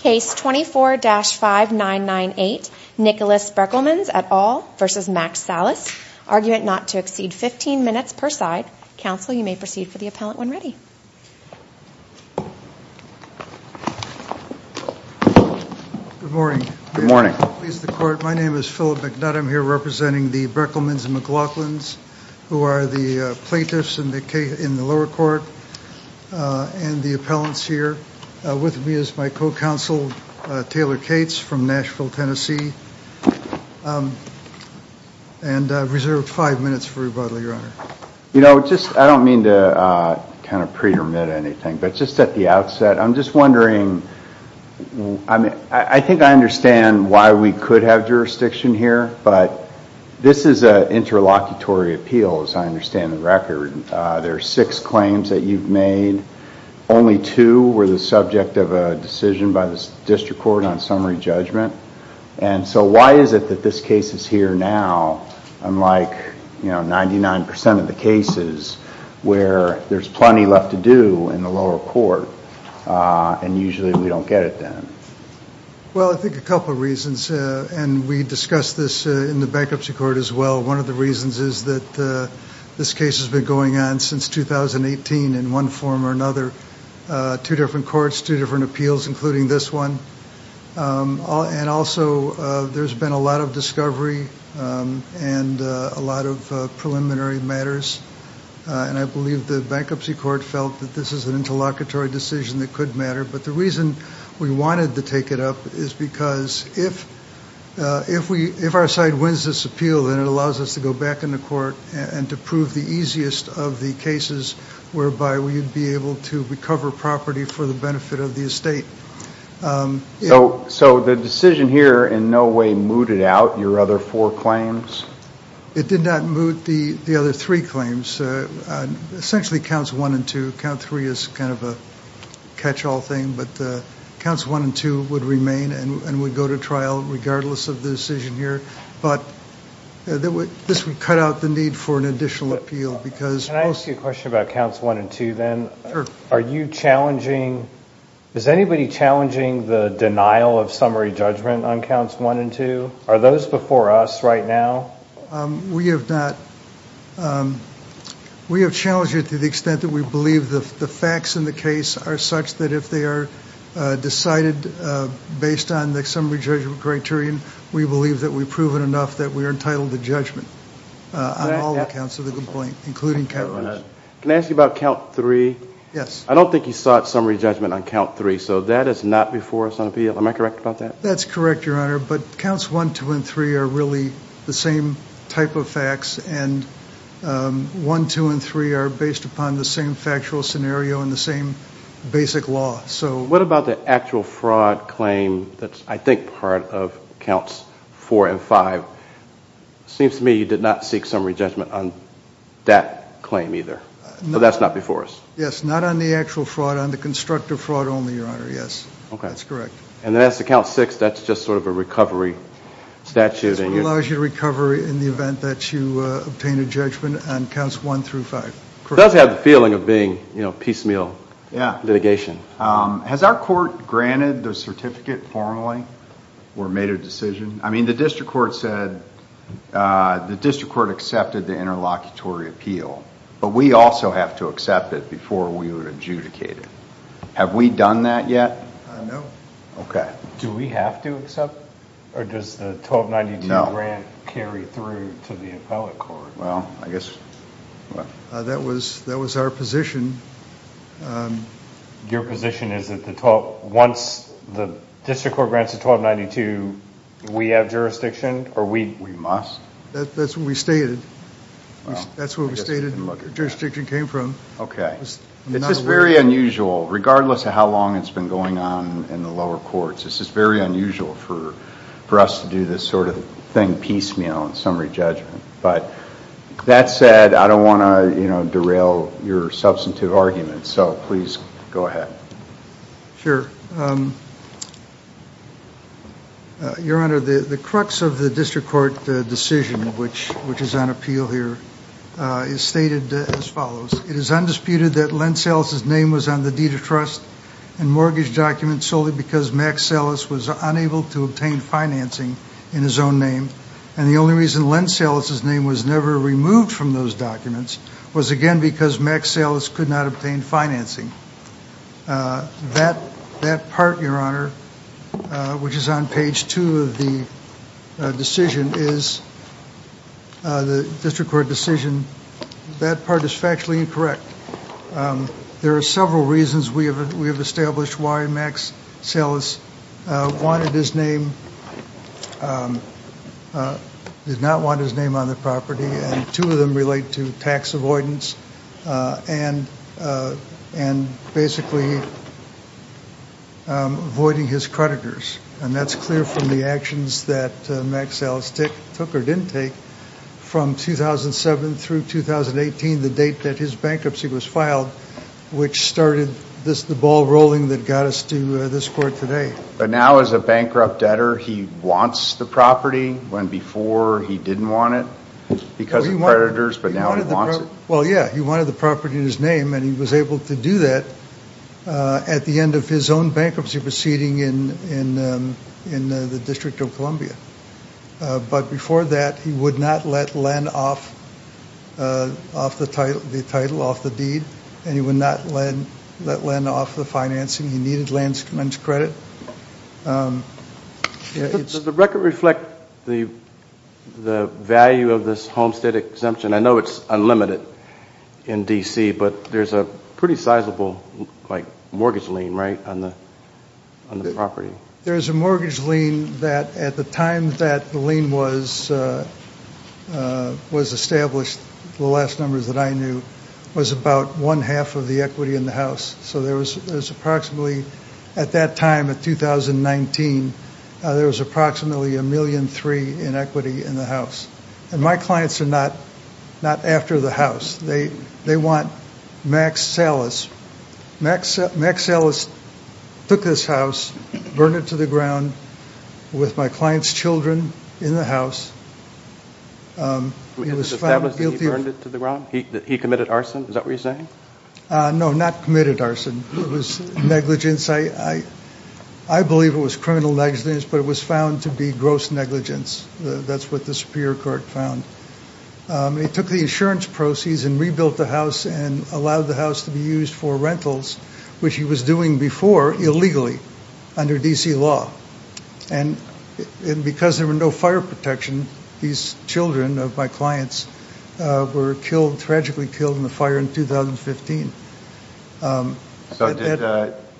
Case 24-5998, Nicholas Brekelmans et al. v. Max Salas. Argument not to exceed 15 minutes per side. Counsel, you may proceed for the appellant when ready. Good morning. Good morning. My name is Philip McNutt. I'm here representing the Brekelmans and McLaughlins, who are the plaintiffs in the lower court and the appellants here. With me is my co-counsel, Taylor Cates, from Nashville, Tennessee. And I've reserved five minutes for rebuttal, Your Honor. You know, just, I don't mean to kind of pre-remit anything, but just at the outset, I'm just wondering, I think I understand why we could have jurisdiction here, but this is an interlocutory appeal, as I understand the record. There are six claims that you've made. Only two were the subject of a decision by the district court on summary judgment. And so why is it that this case is here now, unlike, you know, 99% of the cases, where there's plenty left to do in the lower court, and usually we don't get it then? Well, I think a couple of reasons, and we discussed this in the bankruptcy court as well. One of the reasons is that this case has been going on since 2018 in one form or another. Two different courts, two different appeals, including this one. And also, there's been a lot of discovery and a lot of preliminary matters. And I believe the bankruptcy court felt that this is an interlocutory decision that could matter. But the reason we wanted to take it up is because if our side wins this appeal, then it allows us to go back in the court and to prove the easiest of the cases whereby we'd be able to recover property for the benefit of the estate. So the decision here in no way mooted out your other four claims? It did not moot the other three claims. Essentially counts one and two. Count three is kind of a catch-all thing, but counts one and two would remain and would go to trial regardless of the decision here. But this would cut out the need for an additional appeal. Can I ask you a question about counts one and two then? Sure. Are you challenging, is anybody challenging the denial of summary judgment on counts one and two? Are those before us right now? We have not. We have challenged it to the extent that we believe the facts in the case are such that if they are decided based on the summary judgment criterion, we believe that we've proven enough that we're entitled to judgment on all accounts of the complaint, including count one. Can I ask you about count three? I don't think you sought summary judgment on count three, so that is not before us on appeal. Am I correct about that? That's correct, Your Honor, but counts one, two, and three are really the same type of facts and one, two, and three are based upon the same factual scenario and the same basic law. What about the actual fraud claim that's, I think, part of counts four and five? It seems to me you did not seek summary judgment on that claim either, so that's not before us. Yes, not on the actual fraud, on the constructive fraud only, Your Honor, yes. That's correct. And then as to count six, that's just sort of a recovery statute. It allows you to recover in the event that you obtain a judgment on counts one through five. It does have the feeling of being piecemeal litigation. Has our court granted the certificate formally or made a decision? I mean, the district court said, the district court accepted the interlocutory appeal, but we also have to accept it before we would adjudicate it. Have we done that yet? No. Okay. Do we have to accept or does the 1292 grant carry through to the appellate court? Well, I guess... That was our position. Your position is that once the district court grants the 1292, we have jurisdiction or we... We must. That's what we stated. That's where we stated the jurisdiction came from. It's just very unusual, regardless of how long it's been going on in the lower courts, it's just very unusual for us to do this sort of thing piecemeal in summary judgment. That said, I don't want to derail your substantive argument, so please go ahead. Sure. Your Honor, the crux of the district court decision, which is on appeal here, is stated as follows. It is undisputed that Len Salas' name was on the deed of trust and mortgage documents solely because Max Salas was unable to obtain financing in his own name. And the only reason Len Salas' name was never removed from those documents was again because Max Salas could not obtain financing. That part, Your Honor, which is on page two of the decision is... The district court decision, that part is factually incorrect. There are several reasons we have established why Max Salas wanted his name. He did not want his name on the property. And two of them relate to tax avoidance and basically avoiding his creditors. And that's clear from the actions that Max Salas took or didn't take from 2007 through 2018, the date that his bankruptcy was filed, which started the ball rolling that got us to this court today. But now as a bankrupt debtor, he wants the property when before he didn't want it because of creditors, but now he wants it? Well, yeah, he wanted the property in his name and he was able to do that at the end of his own bankruptcy proceeding in the District of Columbia. But before that, he would not let Len off the deed and he would not let Len off the financing. He needed Len's credit. Does the record reflect the value of this homestead exemption? I know it's unlimited in D.C., but there's a pretty sizable mortgage lien, right, on the property? There's a mortgage lien that at the time that the lien was established, the last number that I knew, was about one-half of the equity in the house. So there was approximately, at that time in 2019, there was approximately a million-three in equity in the house. And my clients are not after the house. They want Max Salas. Max Salas took this house, burned it to the ground with my client's children in the house. It was established that he burned it to the ground? That he committed arson? Is that what you're saying? No, not committed arson. It was negligence. I believe it was criminal negligence, but it was found to be gross negligence. That's what the Superior Court found. He took the insurance proceeds and rebuilt the house and allowed the house to be used for rentals, which he was doing before, illegally, under D.C. law. And because there were no fire protection, these children of my clients were killed, tragically killed, in the fire in 2015. So did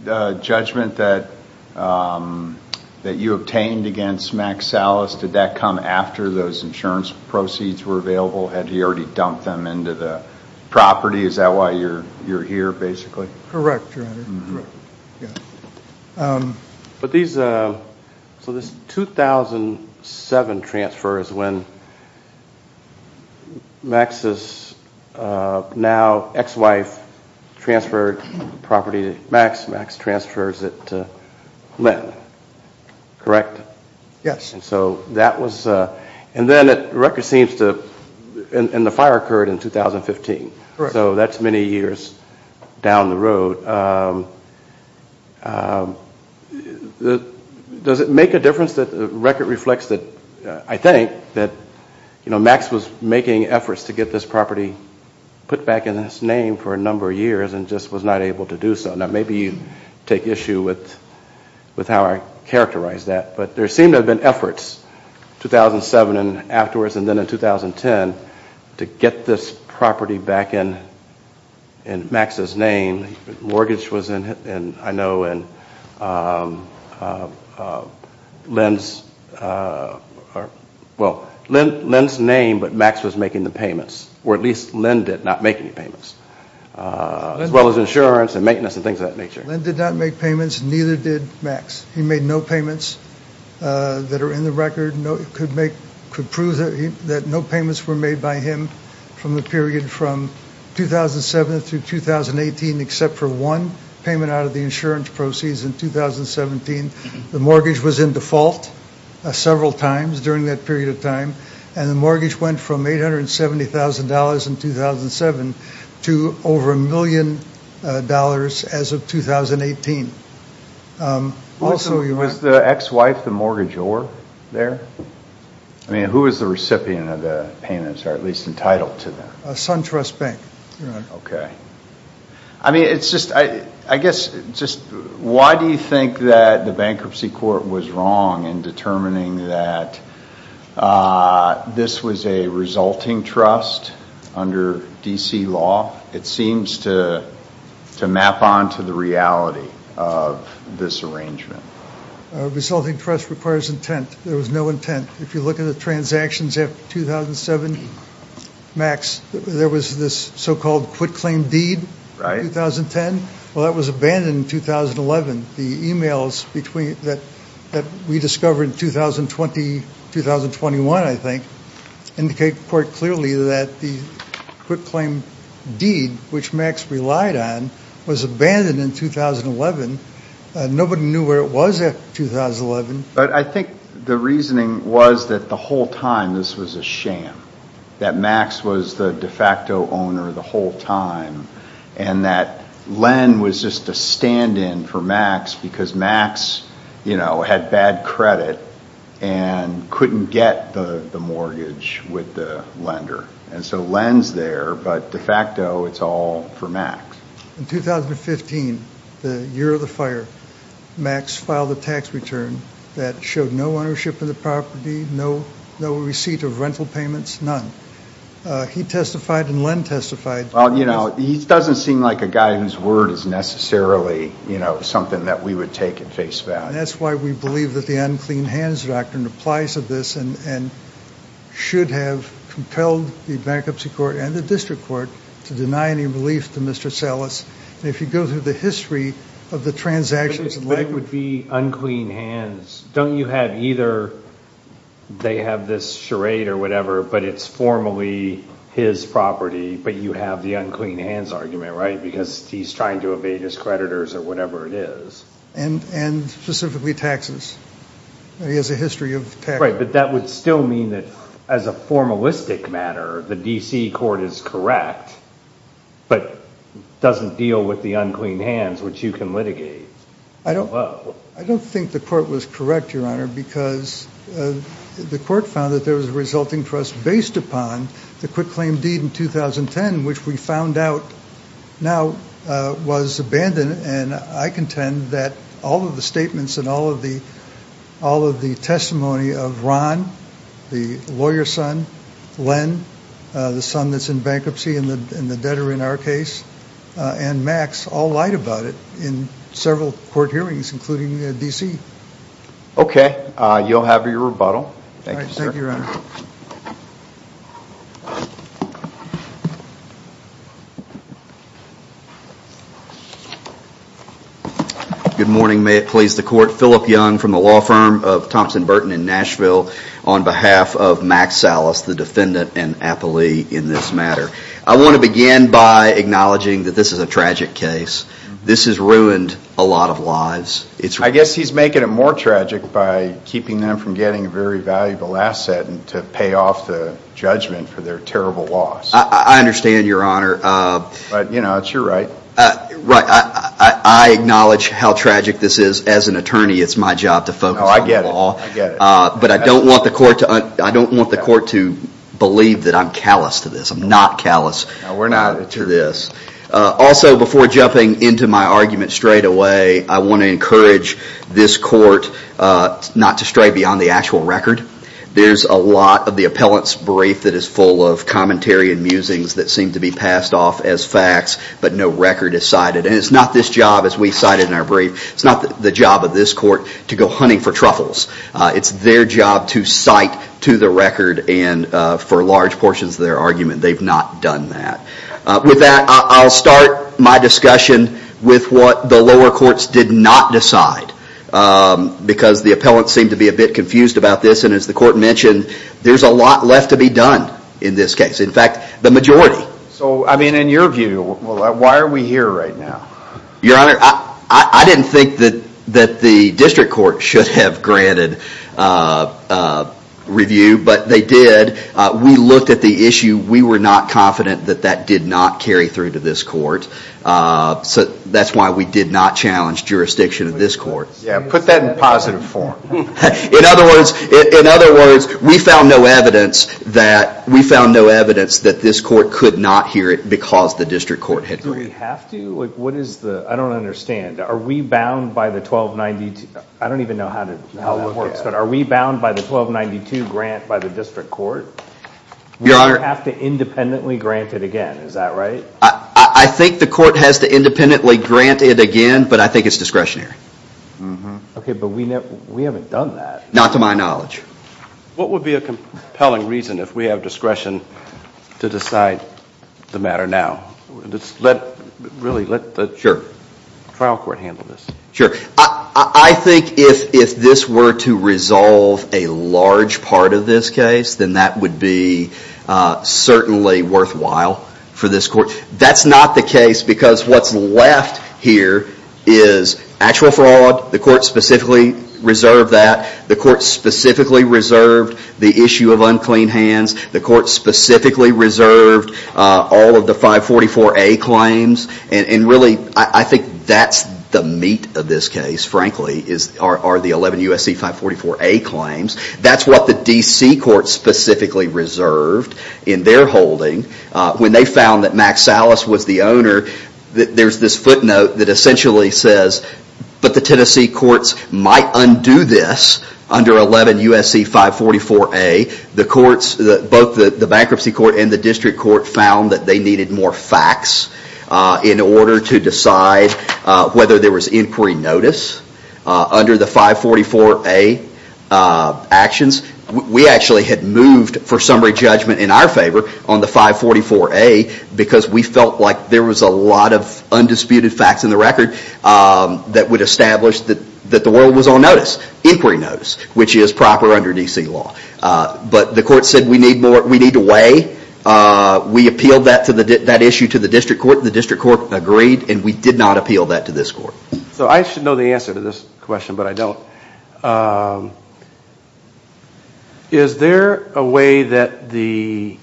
the judgment that you obtained against Max Salas, did that come after those insurance proceeds were available? Had he already dumped them into the property? Is that why you're here, basically? Correct, Your Honor. So this 2007 transfer is when Max's now ex-wife transferred the property to Max. Max transfers it to Lynn, correct? Yes. And then the fire occurred in 2015, so that's many years down the road. So does it make a difference that the record reflects that, I think, that Max was making efforts to get this property put back in its name for a number of years and just was not able to do so? Now maybe you take issue with how I characterize that, but there seem to have been efforts, 2007 and afterwards and then in 2010, to get this property back in Max's name. Mortgage was in, I know, in Lynn's name, but Max was making the payments. Or at least Lynn did not make any payments. As well as insurance and maintenance and things of that nature. Lynn did not make payments, neither did Max. He made no payments that are in the record. It could prove that no payments were made by him from the period from 2007 through 2018, except for one payment out of the insurance proceeds in 2017. The mortgage was in default several times during that period of time. And the mortgage went from $870,000 in 2007 to over $1 million as of 2018. Was the ex-wife, the mortgage ower, there? I mean, who was the recipient of the payments, or at least entitled to them? A SunTrust Bank. Okay. I mean, it's just, I guess, why do you think that the bankruptcy court was wrong in determining that this was a resulting trust under D.C. law? It seems to map onto the reality of this arrangement. A resulting trust requires intent. There was no intent. If you look at the transactions after 2007, Max, there was this so-called quit-claim deed in 2010. Well, that was abandoned in 2011. The emails that we discovered in 2020, 2021, I think, indicate quite clearly that the quit-claim deed, which Max relied on, was abandoned in 2011. Nobody knew where it was after 2011. But I think the reasoning was that the whole time this was a sham, that Max was the de facto owner the whole time, and that Len was just a stand-in for Max because Max, you know, had bad credit and couldn't get the mortgage with the lender. And so Len's there, but de facto, it's all for Max. In 2015, the year of the fire, Max filed a tax return that showed no ownership of the property, no receipt of rental payments, none. He testified and Len testified. Well, you know, he doesn't seem like a guy whose word is necessarily, you know, something that we would take and face back. And that's why we believe that the unclean hands doctrine applies to this and should have compelled the bankruptcy court and the district court to deny any relief to Mr. Salas. And if you go through the history of the transactions, But it would be unclean hands. Don't you have either they have this charade or whatever, but it's formally his property, but you have the unclean hands argument, right? Because he's trying to evade his creditors or whatever it is. And specifically taxes. He has a history of taxes. Right, but that would still mean that as a formalistic matter, the D.C. court is correct but doesn't deal with the unclean hands, which you can litigate. I don't think the court was correct, Your Honor, because the court found that there was a resulting trust based upon the quick claim deed in 2010, which we found out now was abandoned. And I contend that all of the statements and all of the testimony of Ron, the lawyer's son, Len, the son that's in bankruptcy and the debtor in our case, and Max all lied about it in several court hearings, including D.C. Okay, you'll have your rebuttal. Thank you, sir. Thank you, Your Honor. Good morning, may it please the court. Philip Young from the law firm of Thompson Burton in Nashville on behalf of Max Salas, the defendant and appellee in this matter. I want to begin by acknowledging that this is a tragic case. This has ruined a lot of lives. I guess he's making it more tragic by keeping them from getting a very valuable asset and to pay off the judgment for their terrible loss. I understand, Your Honor. But, you know, it's your right. Right. I acknowledge how tragic this is. As an attorney, it's my job to focus on the law. No, I get it. I get it. But I don't want the court to believe that I'm callous to this. I'm not callous to this. No, we're not, Attorney. Also, before jumping into my argument straight away, I want to encourage this court not to stray beyond the actual record. There's a lot of the appellant's brief that is full of commentary and musings that seem to be passed off as facts, but no record is cited. And it's not this job, as we cited in our brief, it's not the job of this court to go hunting for truffles. It's their job to cite to the record and for large portions of their argument. They've not done that. With that, I'll start my discussion with what the lower courts did not decide. Because the appellant seemed to be a bit confused about this, and as the court mentioned, there's a lot left to be done in this case. In fact, the majority. So, I mean, in your view, why are we here right now? Your Honor, I didn't think that the district court should have granted review, but they did. We looked at the issue. We were not confident that that did not carry through to this court. So that's why we did not challenge jurisdiction of this court. Yeah, put that in positive form. In other words, we found no evidence that this court could not hear it because the district court had reviewed it. Do we have to? I don't understand. Are we bound by the 1292? I don't even know how that works. But are we bound by the 1292 grant by the district court? We have to independently grant it again. Is that right? I think the court has to independently grant it again, but I think it's discretionary. Okay, but we haven't done that. Not to my knowledge. What would be a compelling reason if we have discretion to decide the matter now? Let the trial court handle this. Sure. I think if this were to resolve a large part of this case, then that would be certainly worthwhile for this court. That's not the case because what's left here is actual fraud. The court specifically reserved that. The court specifically reserved the issue of unclean hands. The court specifically reserved all of the 544A claims. Really, I think that's the meat of this case, frankly, are the 11 U.S.C. 544A claims. That's what the D.C. court specifically reserved in their holding. When they found that Max Salas was the owner, there's this footnote that essentially says, but the Tennessee courts might undo this under 11 U.S.C. 544A. Both the bankruptcy court and the district court found that they needed more facts in order to decide whether there was inquiry notice under the 544A actions. We actually had moved for summary judgment in our favor on the 544A because we felt like there was a lot of undisputed facts in the record that would establish that the world was on notice, inquiry notice, which is proper under D.C. law. The court said we need to weigh. We appealed that issue to the district court. The district court agreed, and we did not appeal that to this court. I should know the answer to this question, but I don't. Is there a way that the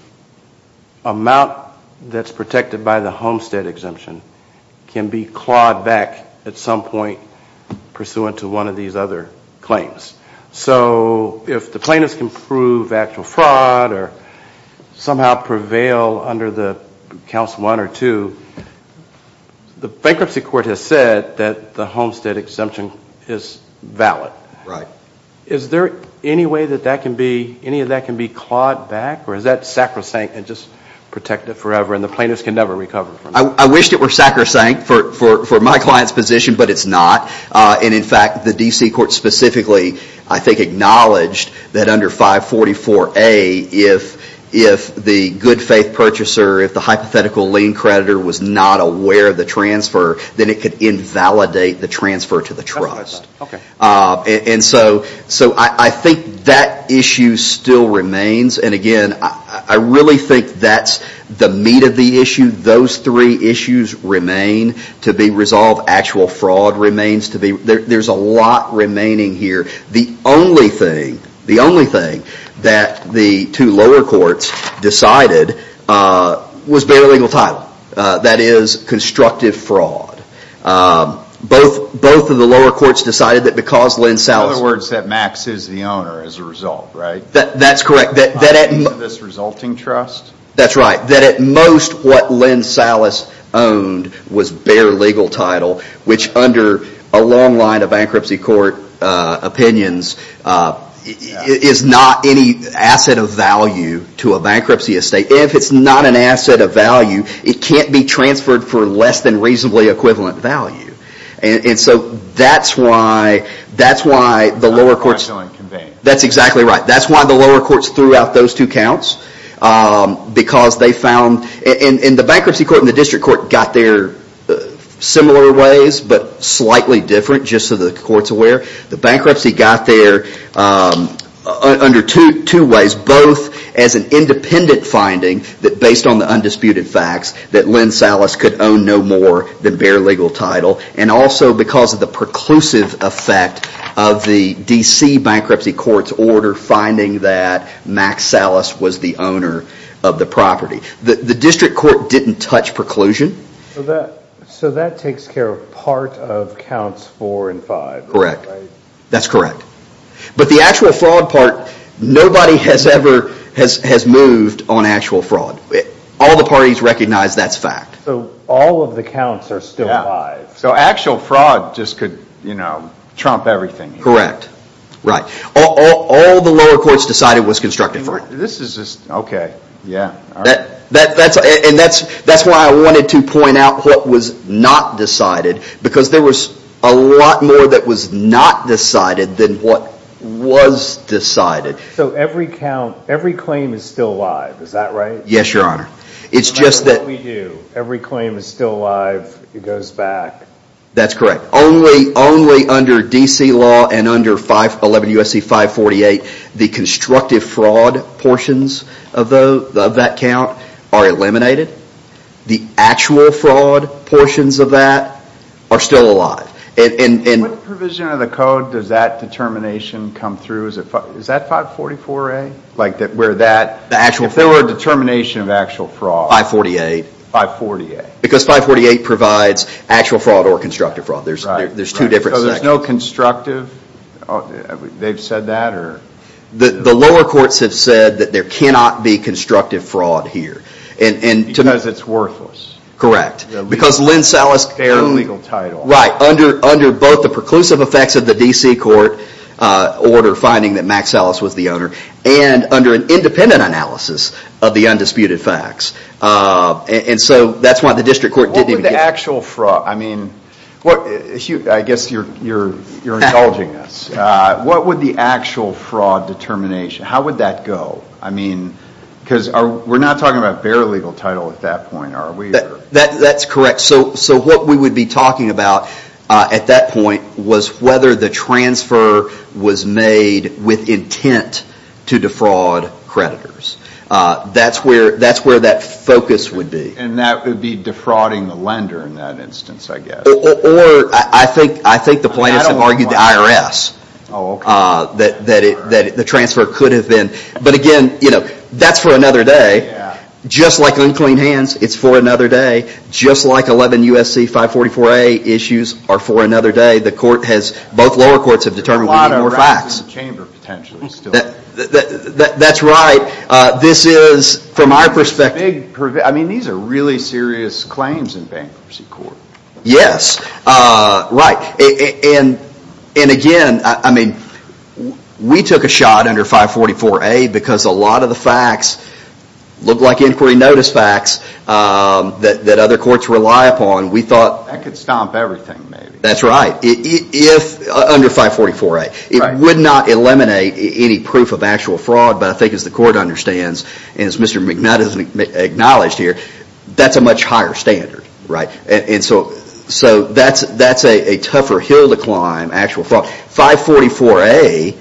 amount that's protected by the Homestead exemption can be clawed back at some point pursuant to one of these other claims? So if the plaintiffs can prove actual fraud or somehow prevail under the Council 1 or 2, the bankruptcy court has said that the Homestead exemption is valid. Is there any way that any of that can be clawed back, or is that sacrosanct and just protect it forever and the plaintiffs can never recover from it? I wished it were sacrosanct for my client's position, but it's not. And in fact, the D.C. court specifically, I think, acknowledged that under 544A, if the good faith purchaser, if the hypothetical lien creditor was not aware of the transfer, then it could invalidate the transfer to the trust. And so I think that issue still remains. And again, I really think that's the meat of the issue. Those three issues remain to be resolved. Actual fraud remains to be. There's a lot remaining here. The only thing, the only thing that the two lower courts decided was bare legal title. That is, constructive fraud. Both of the lower courts decided that because Lynn Sousa... In other words, that Max is the owner as a result, right? That's correct. This resulting trust? That's right. That at most, what Lynn Sousa owned was bare legal title, which under a long line of bankruptcy court opinions is not any asset of value to a bankruptcy estate. If it's not an asset of value, it can't be transferred for less than reasonably equivalent value. And so that's why the lower courts... That's exactly right. That's why the lower courts threw out those two counts because they found... And the bankruptcy court and the district court got there similar ways but slightly different, just so the court's aware. The bankruptcy got there under two ways, both as an independent finding that based on the undisputed facts that Lynn Sousa could own no more than bare legal title and also because of the preclusive effect of the D.C. bankruptcy court's order finding that Max Salas was the owner of the property. The district court didn't touch preclusion. So that takes care of part of counts four and five? Correct. That's correct. But the actual fraud part, nobody has ever moved on actual fraud. All the parties recognize that's fact. So all of the counts are still alive. So actual fraud just could trump everything. Right. All the lower courts decided was constructive fraud. This is just... Yeah. And that's why I wanted to point out what was not decided because there was a lot more that was not decided than what was decided. So every claim is still alive. Is that right? Yes, Your Honor. It's just that... That's what we do. Every claim is still alive. It goes back. That's correct. Only under D.C. law and under 511 U.S.C. 548, the constructive fraud portions of that count are eliminated. The actual fraud portions of that are still alive. What provision of the code does that determination come through? Is that 544A? The actual fraud? If there were a determination of actual fraud... 548. 548. Because 548 provides actual fraud or constructive fraud. There's two different sections. So there's no constructive? They've said that? The lower courts have said that there cannot be constructive fraud here. Because it's worthless. Correct. Because Lynn Salas... Their own legal title. Right. Under both the preclusive effects of the D.C. court order finding that Max Salas was the owner and under an independent analysis of the undisputed facts. That's why the district court... What would the actual fraud... I guess you're indulging us. What would the actual fraud determination... How would that go? Because we're not talking about bare legal title at that point, are we? That's correct. What we would be talking about at that point was whether the transfer was made with intent to defraud creditors. That's where that focus would be. And that would be defrauding the lender in that instance, I guess. Or I think the plaintiffs have argued the IRS. That the transfer could have been... But again, that's for another day. Just like unclean hands, it's for another day. Just like 11 U.S.C. 544A issues are for another day. The court has... Both lower courts have determined we need more facts. That's right. This is, from our perspective... I mean, these are really serious claims in bankruptcy court. Yes. Right. And again, I mean, we took a shot under 544A because a lot of the facts look like inquiry notice facts that other courts rely upon. We thought... That could stomp everything, maybe. That's right. If... Under 544A. It would not eliminate any proof of actual fraud, but I think as the court understands, and as Mr. McNutt has acknowledged here, that's a much higher standard. And so that's a tougher hill to climb, actual fraud. 544A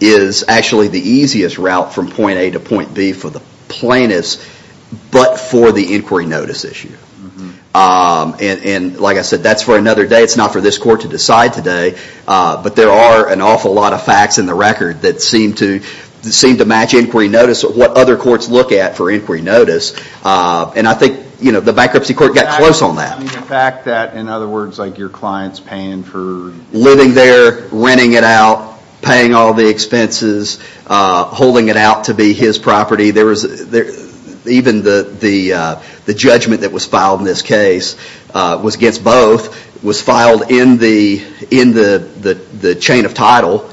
is actually the easiest route from point A to point B for the plaintiffs, but for the inquiry notice issue. And like I said, that's for another day. It's not for this court to decide today, but there are an awful lot of facts in the record that seem to match inquiry notice, what other courts look at for inquiry notice. And I think the bankruptcy court got close on that. The fact that, in other words, your client's paying for... Living there, renting it out, paying all the expenses, holding it out to be his property. Even the judgment that was filed in this case was against both. It was filed in the chain of title.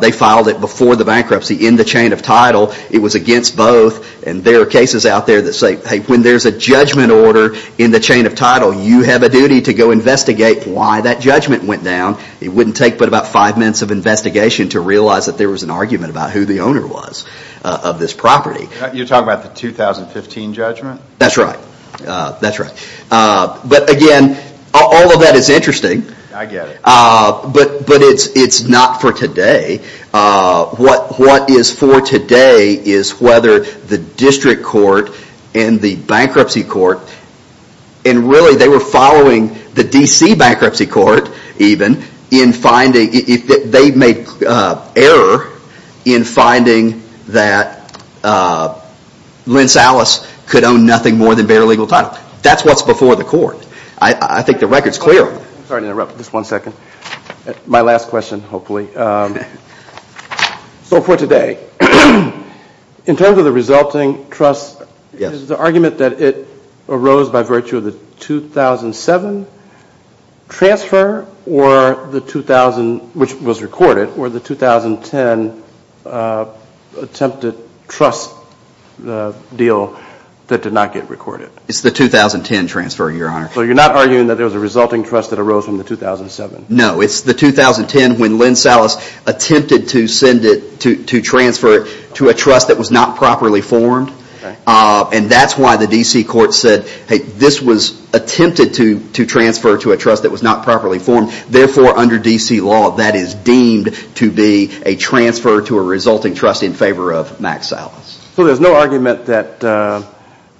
They filed it before the bankruptcy in the chain of title. It was against both. And there are cases out there that say, hey, when there's a judgment order in the chain of title, you have a duty to go investigate why that judgment went down. It wouldn't take but about five minutes of investigation to realize that there was an argument about who the owner was of this property. You're talking about the 2015 judgment? That's right. That's right. But again, all of that is interesting. I get it. But it's not for today. What is for today is whether the district court and the bankruptcy court, and really they were following the D.C. bankruptcy court even, in finding... They made error in finding that Lins-Alice could own nothing more than bare legal title. Now, that's what's before the court. I think the record's clear. Sorry to interrupt. Just one second. My last question, hopefully. So for today, in terms of the resulting trust, is the argument that it arose by virtue of the 2007 transfer or the 2000, which was recorded, or the 2010 attempted trust deal that did not get recorded? It's the 2010 transfer, Your Honor. So you're not arguing that there was a resulting trust that arose from the 2007? No. It's the 2010 when Lins-Alice attempted to send it, to transfer it to a trust that was not properly formed. And that's why the D.C. court said, hey, this was attempted to transfer to a trust that was not properly formed. Therefore, under D.C. law, that is deemed to be a transfer to a resulting trust in favor of Mack Salas. So there's no argument that,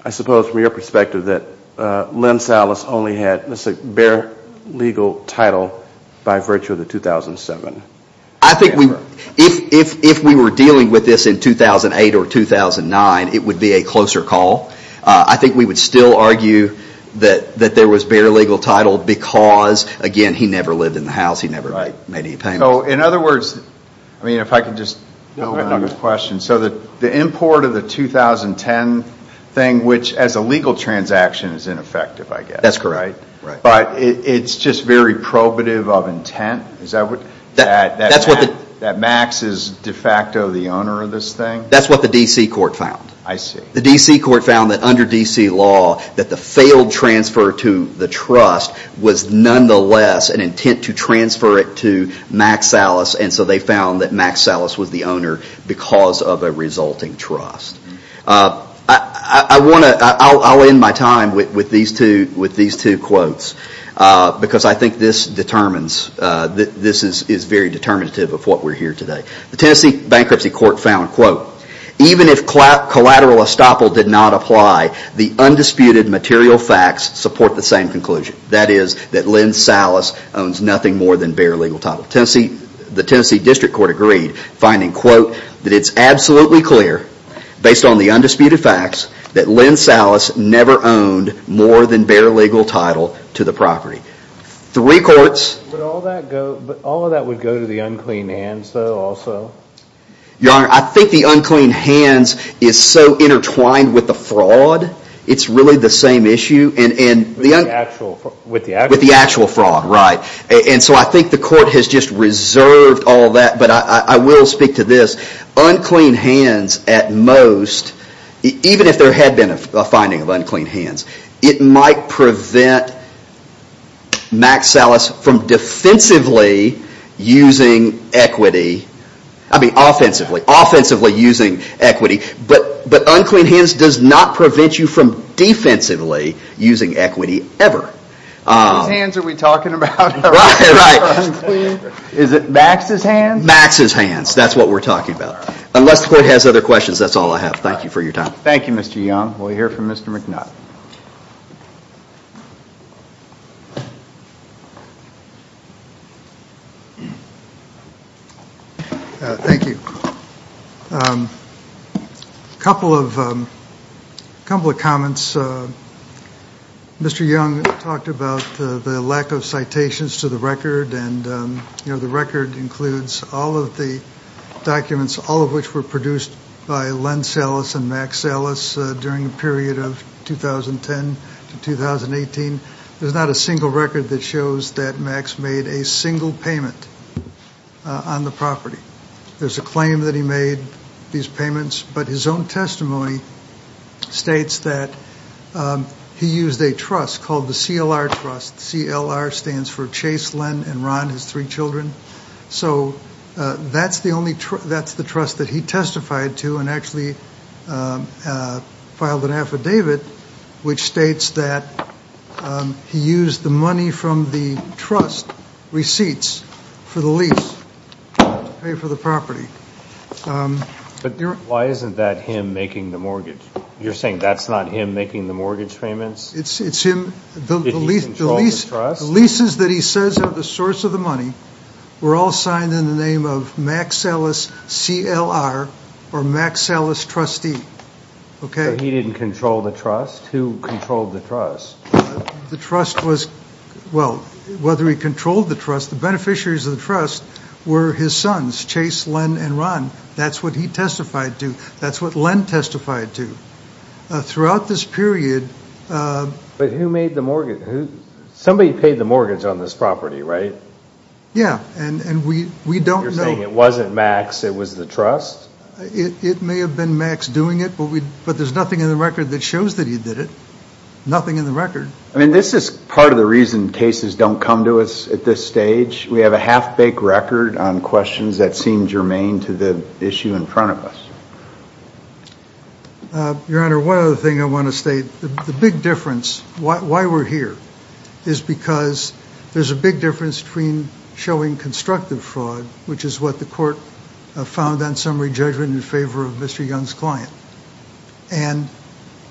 I suppose from your perspective, that Lins-Alice only had, let's say, bare legal title by virtue of the 2007? I think we... If we were dealing with this in 2008 or 2009, it would be a closer call. I think we would still argue that there was bare legal title because, again, he never lived in the house. He never made any payments. In other words, if I could just... No, go ahead. So the import of the 2010 thing, which as a legal transaction is ineffective, I guess. That's correct. But it's just very probative of intent? That Max is de facto the owner of this thing? That's what the D.C. court found. I see. The D.C. court found that under D.C. law, that the failed transfer to the trust was nonetheless an intent to transfer it to Mack Salas, and so they found that Mack Salas was the owner because of a resulting trust. I want to... I'll end my time with these two quotes because I think this determines... This is very determinative of what we're hearing today. The Tennessee Bankruptcy Court found, even if collateral estoppel did not apply, the undisputed material facts support the same conclusion. That is that Lynn Salas owns nothing more than bare legal title. The Tennessee District Court agreed, finding that it's absolutely clear, based on the undisputed facts, that Lynn Salas never owned more than bare legal title to the property. Three courts... But all of that would go to the unclean hands, though, also? Your Honor, I think the unclean hands is so intertwined with the fraud, it's really the same issue... With the actual fraud. With the actual fraud, right. And so I think the court has just reserved all that, but I will speak to this. Unclean hands, at most, even if there had been a finding of unclean hands, it might prevent Mack Salas from defensively using equity. I mean, offensively. Offensively using equity. But unclean hands does not prevent you from defensively using equity, ever. Whose hands are we talking about? Right, right. Unclean? Is it Max's hands? Max's hands. That's what we're talking about. Unless the court has other questions, that's all I have. Thank you for your time. Thank you, Mr. Young. We'll hear from Mr. McNutt. Thank you. A couple of comments. Mr. Young talked about the lack of citations to the record, and the record includes all of the documents, all of which were produced by Len Salas and Mack Salas during the period of 2010 to 2018. There's not a single record that shows that Max made a single payment on the property. There's a claim that he made these payments, but his own testimony states that he used a trust called the CLR Trust. CLR stands for Chase, Len, and Ron, his three children. So that's the trust that he testified to and actually filed an affidavit, which states that he used the money from the trust receipts for the lease to pay for the property. But why isn't that him making the mortgage? You're saying that's not him making the mortgage payments? It's him. Did he control the trust? The leases that he says are the source of the money were all signed in the name of Mack Salas CLR or Mack Salas trustee. So he didn't control the trust? Who controlled the trust? The trust was, well, whether he controlled the trust, the beneficiaries of the trust were his sons, Chase, Len, and Ron. That's what he testified to. That's what Len testified to. Throughout this period... But who made the mortgage? Somebody paid the mortgage on this property, right? Yeah, and we don't know. You're saying it wasn't Max, it was the trust? It may have been Max doing it, but there's nothing in the record that shows that he did it. Nothing in the record. I mean, this is part of the reason cases don't come to us at this stage. We have a half-baked record on questions that seem germane to the issue in front of us. Your Honor, one other thing I want to state. The big difference, why we're here, is because there's a big difference between showing constructive fraud, which is what the court found on summary judgment in favor of Mr. Young's client, and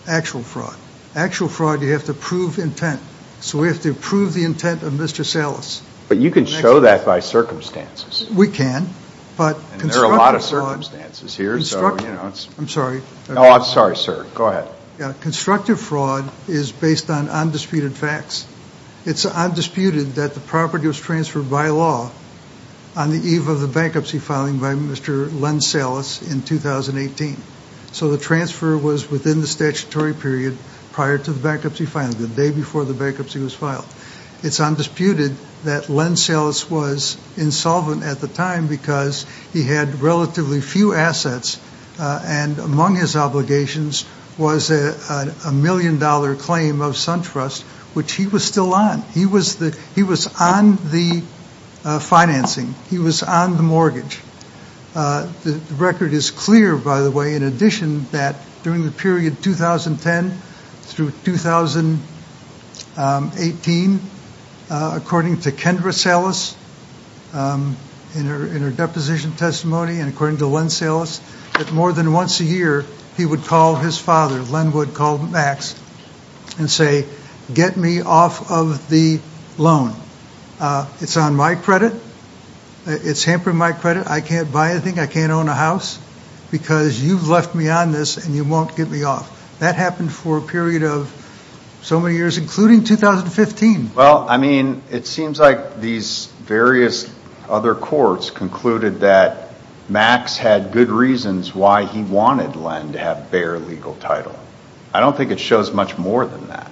actual fraud. Actual fraud, you have to prove intent. So we have to prove the intent of Mr. Salas. But you can show that by circumstances. We can, but constructive fraud... And there are a lot of circumstances here. I'm sorry. Oh, I'm sorry, sir. Go ahead. Constructive fraud is based on undisputed facts. It's undisputed that the property was transferred by law on the eve of the bankruptcy filing by Mr. Len Salas in 2018. So the transfer was within the statutory period prior to the bankruptcy filing, the day before the bankruptcy was filed. It's undisputed that Len Salas was insolvent at the time because he had relatively few assets, and among his obligations was a million-dollar claim of SunTrust, which he was still on. He was on the financing. He was on the mortgage. The record is clear, by the way, in addition that during the period 2010 through 2018, according to Kendra Salas in her deposition testimony and according to Len Salas, that more than once a year he would call his father, Len would call Max, and say, get me off of the loan. It's on my credit. It's hampering my credit. I can't buy anything. I can't own a house because you've left me on this and you won't get me off. That happened for a period of so many years, including 2015. Well, I mean, it seems like these various other courts concluded that Max had good reasons why he wanted Len to have bare legal title. I don't think it shows much more than that.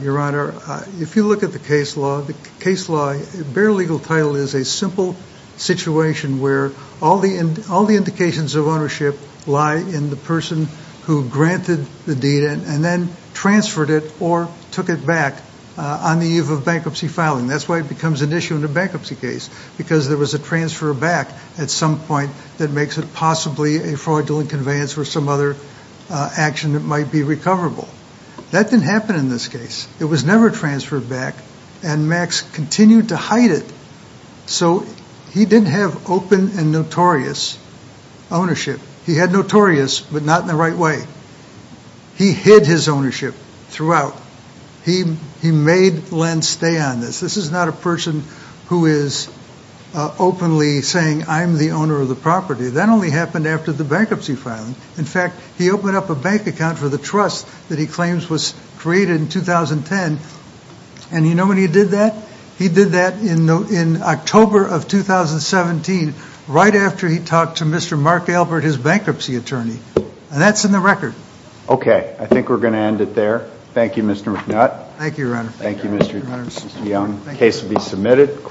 Your Honor, if you look at the case law, the case law, bare legal title is a simple situation where all the indications of ownership lie in the person who granted the deed and then transferred it or took it back on the eve of bankruptcy filing. That's why it becomes an issue in a bankruptcy case because there was a transfer back at some point that makes it possibly a fraudulent conveyance or some other action that might be recoverable. That didn't happen in this case. It was never transferred back, and Max continued to hide it. So he didn't have open and notorious ownership. He had notorious, but not in the right way. He hid his ownership throughout. He made Len stay on this. This is not a person who is openly saying, I'm the owner of the property. That only happened after the bankruptcy filing. In fact, he opened up a bank account for the trust that he claims was created in 2010, and you know when he did that? He did that in October of 2017, right after he talked to Mr. Mark Albert, his bankruptcy attorney, and that's in the record. Okay, I think we're going to end it there. Thank you, Mr. McNutt. Thank you, Your Honor. Thank you, Mr. Young. The case will be submitted.